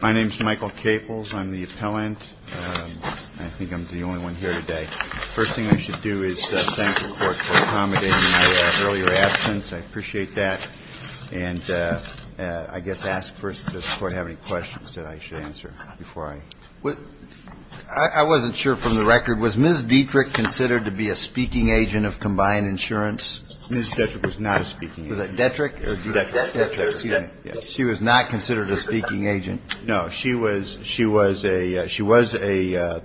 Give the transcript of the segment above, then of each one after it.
My name is Michael Capels. I'm the appellant. I think I'm the only one here today. First thing I should do is thank the court for accommodating my earlier absence. I appreciate that. And I guess ask first, does the court have any questions that I should answer before I... I wasn't sure from the record. Was Ms. Dietrich considered to be a speaking agent of Combined Insurance? Ms. Dietrich was not a speaking agent. Was that Detrick? Detrick. She was not considered a speaking agent. No. She was an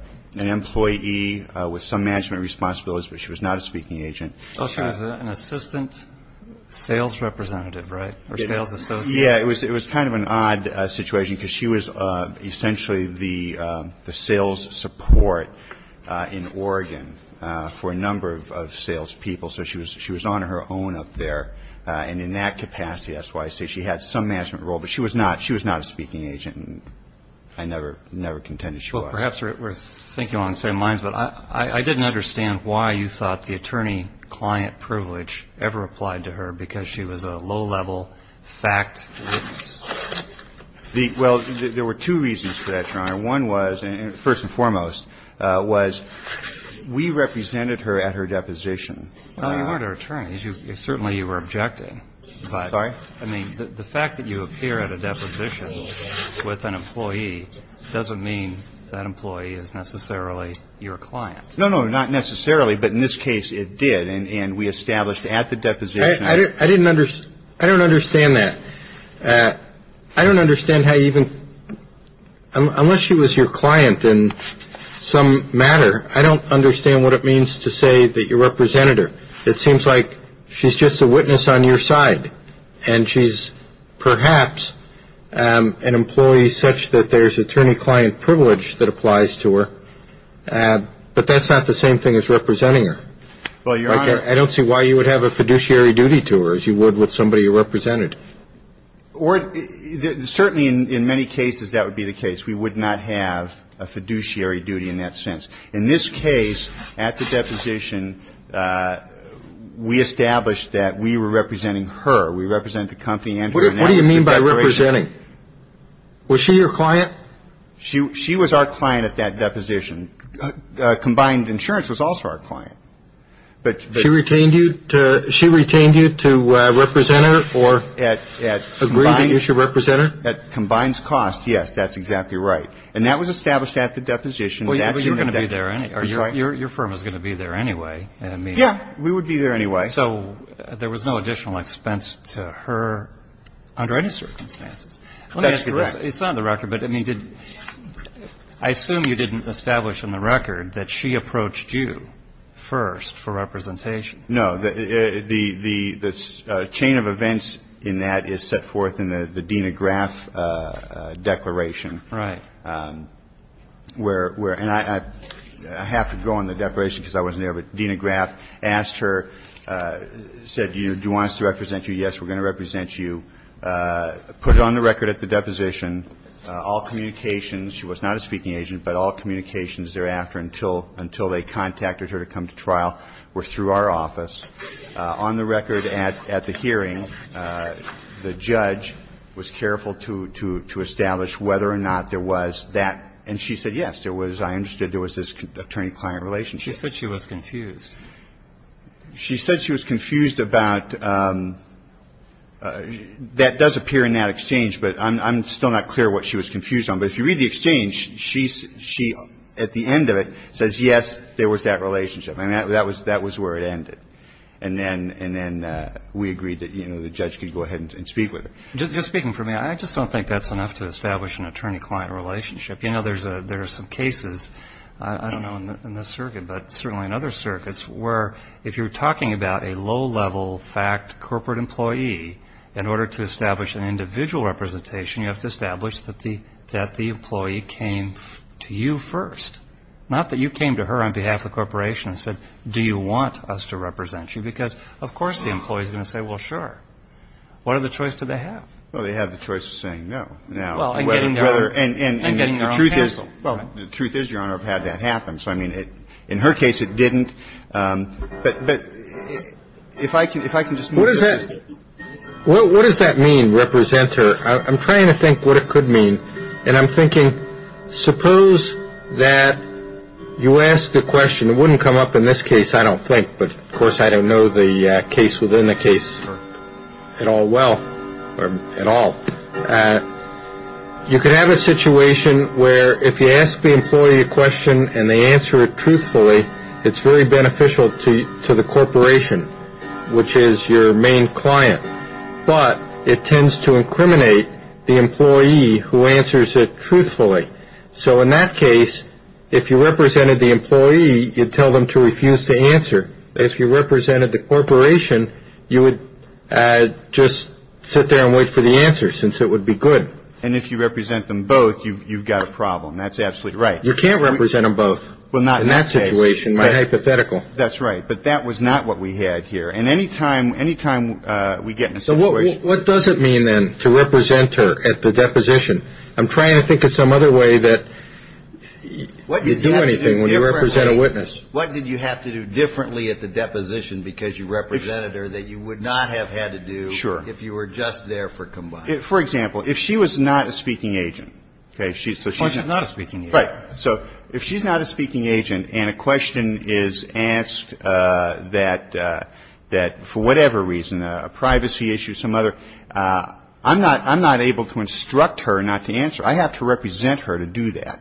employee with some management responsibilities, but she was not a speaking agent. She was an assistant sales representative, right? Or sales associate? Yeah. It was kind of an odd situation because she was essentially the sales support in Oregon for a number of salespeople. So she was on her own up there. And in that capacity, that's why I say she had some management role. But she was not a speaking agent. I never contended she was. Perhaps we're thinking on the same lines, but I didn't understand why you thought the attorney-client privilege ever applied to her because she was a low-level fact witness. Well, there were two reasons for that, Your Honor. One was, first and foremost, was we represented her at her deposition. No, you weren't her attorney. Certainly, you were objecting. Sorry? I mean, the fact that you appear at a deposition with an employee doesn't mean that employee is necessarily your client. No, no, not necessarily. But in this case, it did. And we established at the deposition. I didn't understand. I don't understand that. I don't understand how even unless she was your client in some matter, I don't understand what it means to say that you represented her. It seems like she's just a witness on your side. And she's perhaps an employee such that there's attorney-client privilege that applies to her. But that's not the same thing as representing her. Well, Your Honor. I don't see why you would have a fiduciary duty to her as you would with somebody you represented. Certainly, in many cases, that would be the case. We would not have a fiduciary duty in that sense. In this case, at the deposition, we established that we were representing her. We represented the company and her. What do you mean by representing? Was she your client? She was our client at that deposition. Combined insurance was also our client. She retained you to represent her or agree that you should represent her? At combined cost, yes. That's exactly right. And that was established at the deposition. Well, you were going to be there anyway. That's right. Your firm was going to be there anyway. Yeah. We would be there anyway. So there was no additional expense to her under any circumstances. Let me ask you this. It's on the record. But, I mean, I assume you didn't establish in the record that she approached you first for representation. No. The chain of events in that is set forth in the Dena Graf Declaration. Right. And I have to go on the deposition because I wasn't there. But Dena Graf asked her, said, do you want us to represent you? Yes, we're going to represent you. Put it on the record at the deposition, all communications, she was not a speaking agent, but all communications thereafter until they contacted her to come to trial were through our office. On the record at the hearing, the judge was careful to establish whether or not there was that. And she said, yes, there was. I understood there was this attorney-client relationship. She said she was confused. She said she was confused about that does appear in that exchange, but I'm still not clear what she was confused on. But if you read the exchange, she, at the end of it, says, yes, there was that relationship. And that was where it ended. And then we agreed that the judge could go ahead and speak with her. Just speaking for me, I just don't think that's enough to establish an attorney-client relationship. There are some cases, I don't know in this circuit, but certainly in other circuits, where if you're talking about a low-level fact corporate employee, in order to establish an individual representation, you have to establish that the employee came to you first, not that you came to her on behalf of the corporation and said, do you want us to represent you? Because, of course, the employee is going to say, well, sure. What other choice did they have? Well, they have the choice of saying no now. And getting their own counsel. Well, the truth is, Your Honor, I've had that happen. So, I mean, in her case, it didn't. But if I can just make a point. What does that mean, representer? I'm trying to think what it could mean. And I'm thinking, suppose that you ask the question, it wouldn't come up in this case, I don't think. But, of course, I don't know the case within the case at all well, or at all. You could have a situation where if you ask the employee a question and they answer it truthfully, it's very beneficial to the corporation, which is your main client. But it tends to incriminate the employee who answers it truthfully. So, in that case, if you represented the employee, you'd tell them to refuse to answer. If you represented the corporation, you would just sit there and wait for the answer, since it would be good. And if you represent them both, you've got a problem. That's absolutely right. You can't represent them both. Well, not in that case. In that situation. My hypothetical. That's right. But that was not what we had here. And any time we get in a situation. So what does it mean, then, to represent her at the deposition? I'm trying to think of some other way that you do anything when you represent a witness. What did you have to do differently at the deposition because you represented her that you would not have had to do if you were just there for combined? For example, if she was not a speaking agent. Oh, she's not a speaking agent. Right. So if she's not a speaking agent and a question is asked that for whatever reason, a privacy issue, some other. I'm not able to instruct her not to answer. I have to represent her to do that.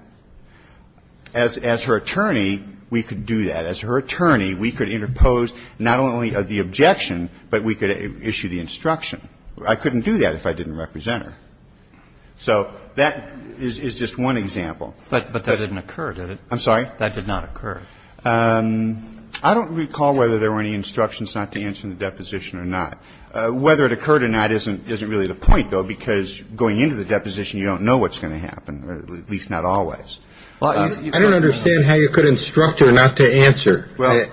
As her attorney, we could do that. As her attorney, we could interpose not only the objection, but we could issue the instruction. I couldn't do that if I didn't represent her. So that is just one example. But that didn't occur, did it? I'm sorry. That did not occur. I don't recall whether there were any instructions not to answer in the deposition or not. Whether it occurred or not isn't really the point, though, because going into the deposition, you don't know what's going to happen, at least not always. I don't understand how you could instruct her not to answer. Well,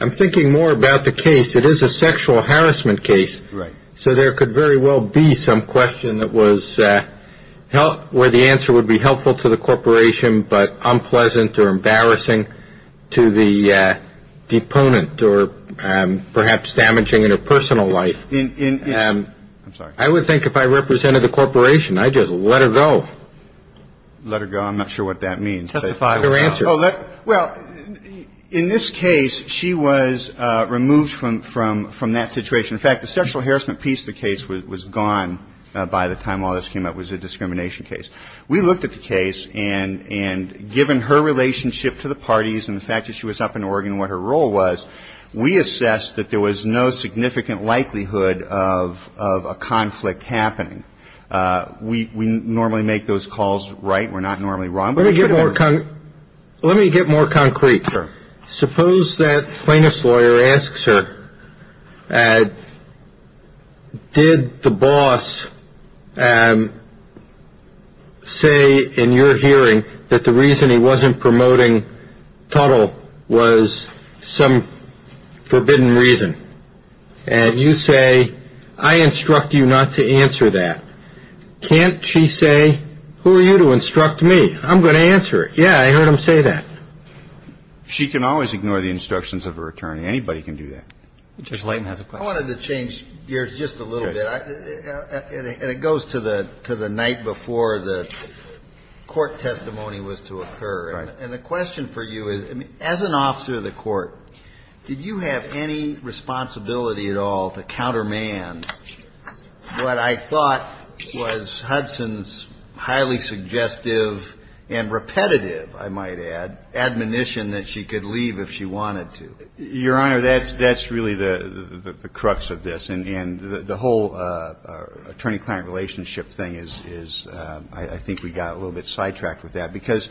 I'm thinking more about the case. It is a sexual harassment case. Right. So there could very well be some question that was where the answer would be helpful to the corporation, but unpleasant or embarrassing to the deponent or perhaps damaging in her personal life. I'm sorry. I would think if I represented the corporation, I'd just let her go. Let her go? I'm not sure what that means. Testify. Or answer. Well, in this case, she was removed from that situation. In fact, the sexual harassment piece of the case was gone by the time all this came up. It was a discrimination case. We looked at the case, and given her relationship to the parties and the fact that she was up in Oregon and what her role was, we assessed that there was no significant likelihood of a conflict happening. We normally make those calls right. We're not normally wrong. Let me get more concrete. Sure. Suppose that plaintiff's lawyer asks her, did the boss say in your hearing that the reason he wasn't promoting Tuttle was some forbidden reason? And you say, I instruct you not to answer that. Can't she say, who are you to instruct me? I'm going to answer it. Yeah, I heard him say that. She can always ignore the instructions of her attorney. Anybody can do that. Judge Layton has a question. I wanted to change gears just a little bit. Okay. And it goes to the night before the court testimony was to occur. Right. And the question for you is, as an officer of the court, did you have any responsibility at all to countermand what I thought was Hudson's highly suggestive and repetitive, I might add, admonition that she could leave if she wanted to? Your Honor, that's really the crux of this. And the whole attorney-client relationship thing is, I think we got a little bit sidetracked with that. Because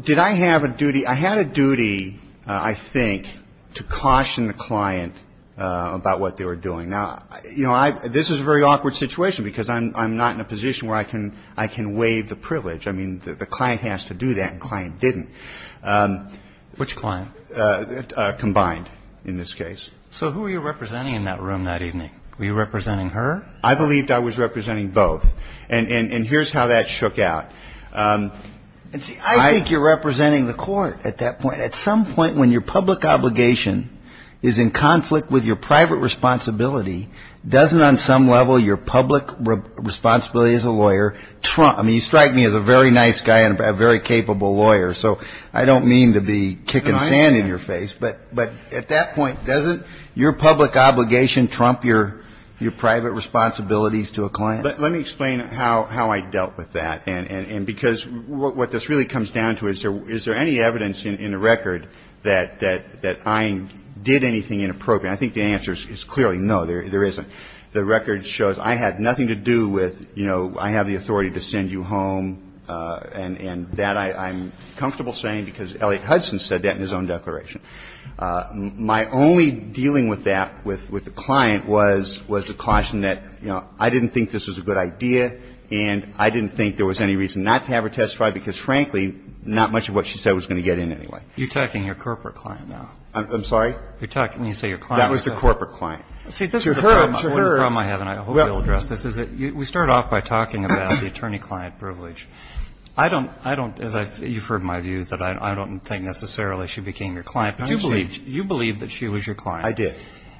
did I have a duty? I had a duty, I think, to caution the client about what they were doing. Now, you know, this is a very awkward situation because I'm not in a position where I can waive the privilege. I mean, the client has to do that and the client didn't. Which client? Combined, in this case. So who were you representing in that room that evening? Were you representing her? I believed I was representing both. And here's how that shook out. I think you're representing the court at that point. At that point, when your public obligation is in conflict with your private responsibility, doesn't on some level your public responsibility as a lawyer trump, I mean, you strike me as a very nice guy and a very capable lawyer. So I don't mean to be kicking sand in your face. But at that point, doesn't your public obligation trump your private responsibilities to a client? Let me explain how I dealt with that. And because what this really comes down to is, is there any evidence in the record that I did anything inappropriate? I think the answer is clearly no, there isn't. The record shows I had nothing to do with, you know, I have the authority to send you home. And that I'm comfortable saying because Elliot Hudson said that in his own declaration. My only dealing with that, with the client, was a caution that, you know, I didn't think this was a good idea and I didn't think there was any reason not to have her testify because frankly, not much of what she said was going to get in anyway. You're talking your corporate client now. I'm sorry? You're talking, you say your client. That was the corporate client. See, this is the problem I have and I hope you'll address this, is that we start off by talking about the attorney-client privilege. I don't, I don't, as I, you've heard my views that I don't think necessarily she became your client. But you believed, you believed that she was your client. I did.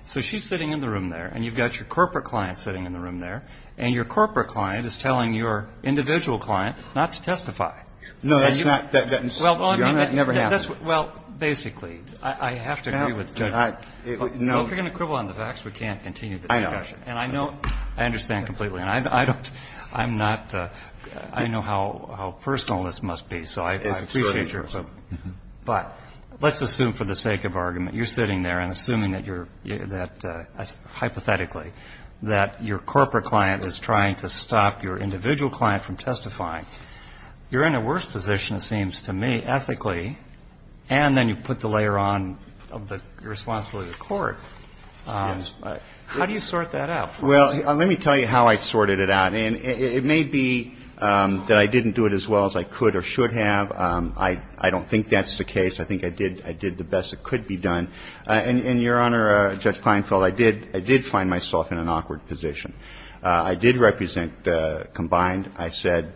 So she's sitting in the room there and you've got your corporate client sitting in the room there and your corporate client is telling your individual client not to testify. No, that's not, that never happened. Well, basically, I have to agree with you. No. Well, if you're going to quibble on the facts, we can't continue the discussion. I know. And I know, I understand completely. And I don't, I'm not, I know how personal this must be. So I appreciate your, but let's assume for the sake of argument, you're sitting there and assuming that you're, that hypothetically, that your corporate client is trying to stop your individual client from testifying. You're in a worse position, it seems to me, ethically, and then you put the layer on of the responsibility of the court. Yes. How do you sort that out for us? Well, let me tell you how I sorted it out. And it may be that I didn't do it as well as I could or should have. I don't think that's the case. I think I did, I did the best that could be done. And, Your Honor, Judge Kleinfeld, I did, I did find myself in an awkward position. I did represent combined. I said,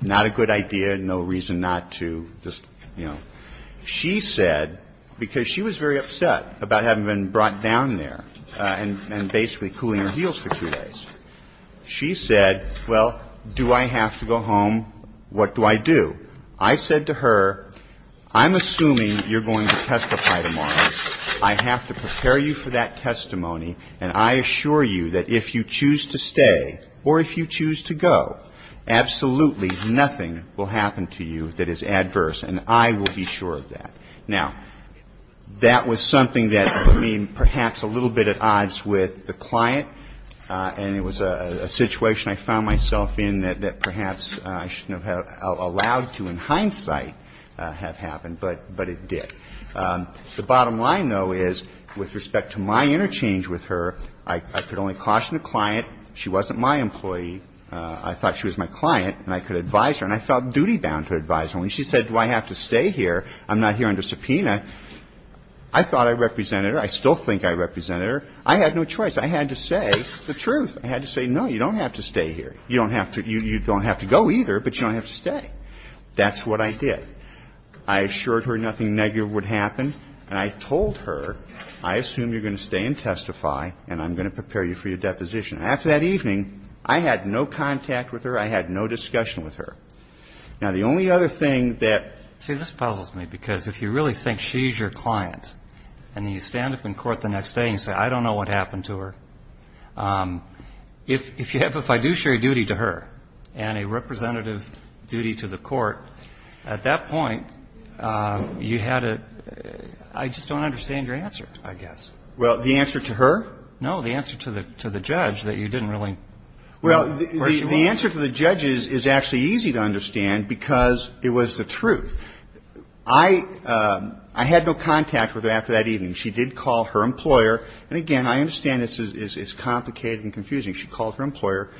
not a good idea, no reason not to, just, you know. She said, because she was very upset about having been brought down there and basically cooling her heels for two days. She said, well, do I have to go home? What do I do? I said to her, I'm assuming you're going to testify tomorrow. I have to prepare you for that testimony. And I assure you that if you choose to stay or if you choose to go, absolutely nothing will happen to you that is adverse. And I will be sure of that. Now, that was something that put me perhaps a little bit at odds with the client. And it was a situation I found myself in that perhaps I shouldn't have allowed to in hindsight have happened, but it did. The bottom line, though, is with respect to my interchange with her, I could only caution the client. She wasn't my employee. I thought she was my client, and I could advise her. And I felt duty-bound to advise her. When she said, do I have to stay here, I'm not here under subpoena, I thought I represented her. I still think I represented her. I had no choice. I had to say the truth. I had to say, no, you don't have to stay here. You don't have to go either, but you don't have to stay. That's what I did. I assured her nothing negative would happen, and I told her, I assume you're going to stay and testify, and I'm going to prepare you for your deposition. And after that evening, I had no contact with her. I had no discussion with her. Now, the only other thing that ‑‑ See, this puzzles me, because if you really think she's your client, and you stand up in court the next day and you say, I don't know what happened to her, if you have ‑‑ if I do share a duty to her and a representative duty to the court, at that point, you had a ‑‑ I just don't understand your answer. I guess. Well, the answer to her? No, the answer to the judge that you didn't really ‑‑ Well, the answer to the judge is actually easy to understand, because it was the truth. I had no contact with her after that evening. She did call her employer. And again, I understand this is complicated and confusing. She called her employer.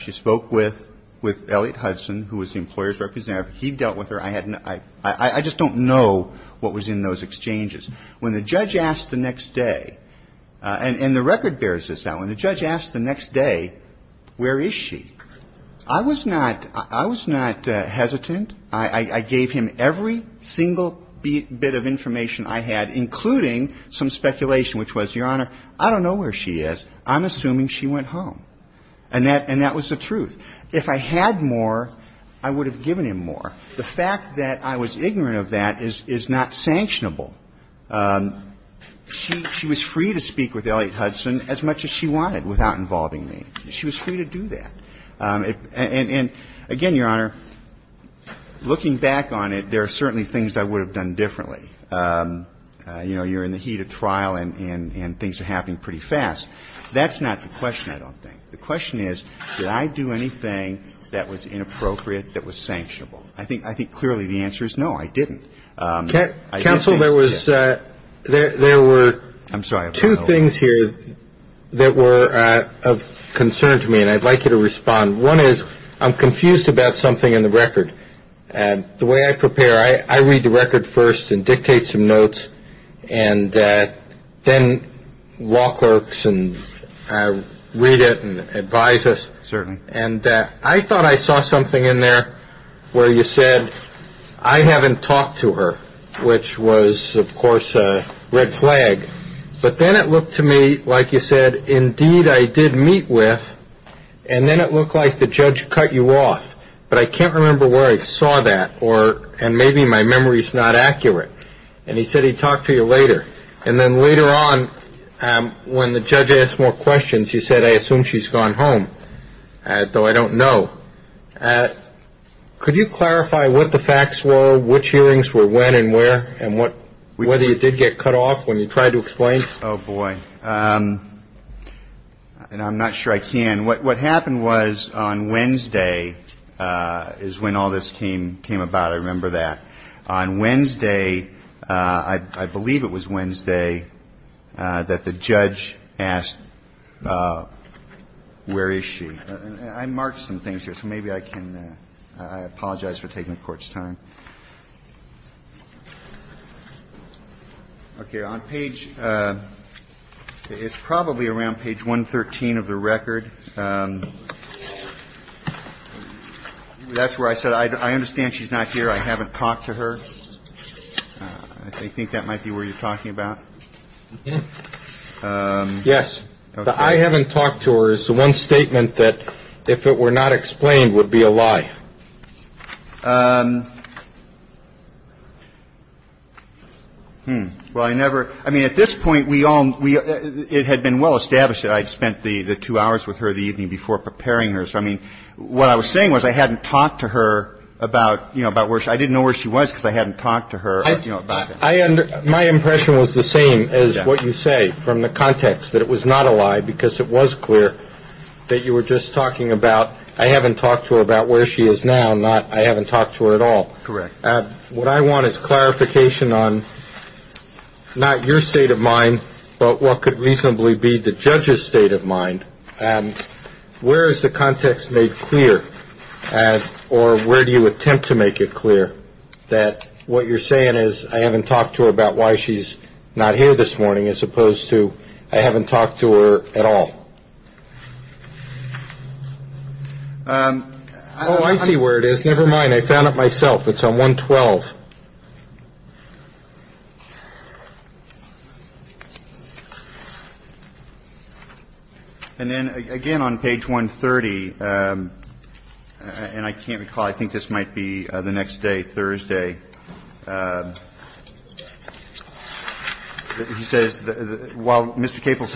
She spoke with Elliott Hudson, who was the employer's representative. He dealt with her. I had no ‑‑ I just don't know what was in those exchanges. When the judge asked the next day, and the record bears this out. When the judge asked the next day, where is she? I was not hesitant. I gave him every single bit of information I had, including some speculation, which was, Your Honor, I don't know where she is. I'm assuming she went home. And that was the truth. If I had more, I would have given him more. The fact that I was ignorant of that is not sanctionable. She was free to speak with Elliott Hudson as much as she wanted without involving me. She was free to do that. And again, Your Honor, looking back on it, there are certainly things I would have done differently. You know, you're in the heat of trial and things are happening pretty fast. That's not the question, I don't think. The question is, did I do anything that was inappropriate, that was sanctionable? I think clearly the answer is no, I didn't. Counsel, there were two things here that were of concern to me, and I'd like you to respond. One is, I'm confused about something in the record. The way I prepare, I read the record first and dictate some notes, and then law clerks read it and advise us. Certainly. And I thought I saw something in there where you said, I haven't talked to her, which was, of course, a red flag. But then it looked to me, like you said, indeed I did meet with, and then it looked like the judge cut you off. But I can't remember where I saw that, and maybe my memory is not accurate. And he said he'd talk to you later. And then later on, when the judge asked more questions, he said, I assume she's gone home, though I don't know. Could you clarify what the facts were, which hearings were when and where, and whether you did get cut off when you tried to explain? Oh, boy. And I'm not sure I can. What happened was on Wednesday is when all this came about. I remember that. On Wednesday, I believe it was Wednesday, that the judge asked, where is she? I marked some things here, so maybe I can – I apologize for taking the Court's time. Okay. On page – it's probably around page 113 of the record. That's where I said I understand she's not here. I haven't talked to her. I think that might be where you're talking about. Yes. I haven't talked to her is the one statement that if it were not explained would be a lie. Well, I never – I mean, at this point, we all – it had been well established that I'd spent the two hours with her. I didn't talk to her the evening before preparing her. So, I mean, what I was saying was I hadn't talked to her about, you know, about where – I didn't know where she was because I hadn't talked to her. I – my impression was the same as what you say from the context, that it was not a lie because it was clear that you were just talking about I haven't talked to her about where she is now, not I haven't talked to her at all. Correct. What I want is clarification on not your state of mind, but what could reasonably be the judge's state of mind. Where is the context made clear or where do you attempt to make it clear that what you're saying is I haven't talked to her about why she's not here this morning as opposed to I haven't talked to her at all? Oh, I see where it is. Never mind. I found it myself. It's on 112. And then, again, on page 130 – and I can't recall, I think this might be the next day, Thursday – he says, I'm going to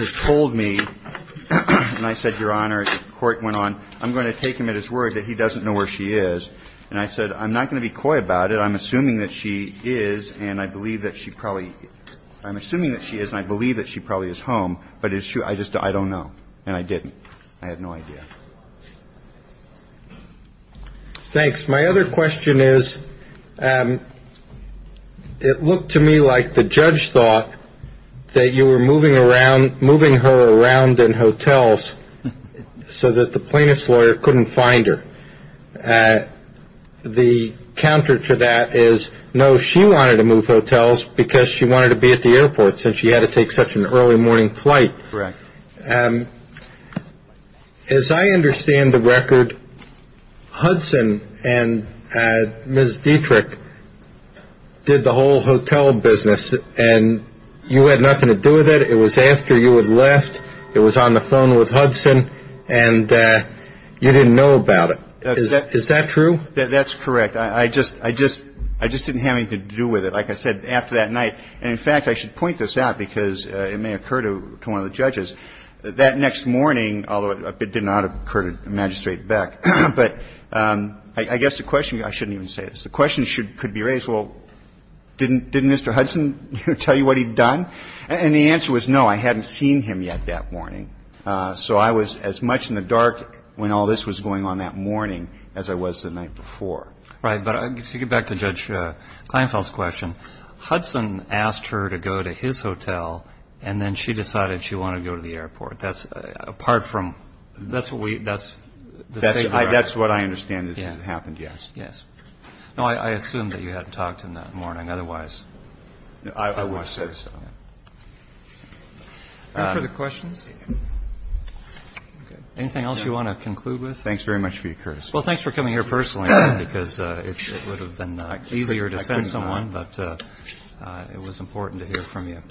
take him at his word that he doesn't know where she is. And I said, I'm not going to be coy about it. I'm assuming that she is and I believe that she probably – I'm assuming that she is and I believe that she probably is home. But is she – I just – I don't know. And I didn't. I had no idea. Thanks. My other question is, it looked to me like the judge thought that you were moving around – moving her around in hotels so that the plaintiff's lawyer couldn't find her. The counter to that is, no, she wanted to move hotels because she wanted to be at the airport since she had to take such an early morning flight. Correct. As I understand the record, Hudson and Ms. Dietrich did the whole hotel business and you had nothing to do with it. It was after you had left. It was on the phone with Hudson and you didn't know about it. Is that true? That's correct. I just didn't have anything to do with it, like I said, after that night. And, in fact, I should point this out because it may occur to one of the judges. That next morning, although it did not occur to Magistrate Beck, but I guess the question – I shouldn't even say this. The question could be raised, well, didn't Mr. Hudson tell you what he'd done? And the answer was, no, I hadn't seen him yet that morning. So I was as much in the dark when all this was going on that morning as I was the night before. Right. But to get back to Judge Kleinfeld's question, Hudson asked her to go to his hotel and then she decided she wanted to go to the airport. That's apart from – that's the statement. That's what I understand that happened, yes. Yes. No, I assume that you hadn't talked to him that morning. Otherwise, I would have said so. Any further questions? Anything else you want to conclude with? Thanks very much for your courtesy. Well, thanks for coming here personally, because it would have been easier to send someone. But it was important to hear from you.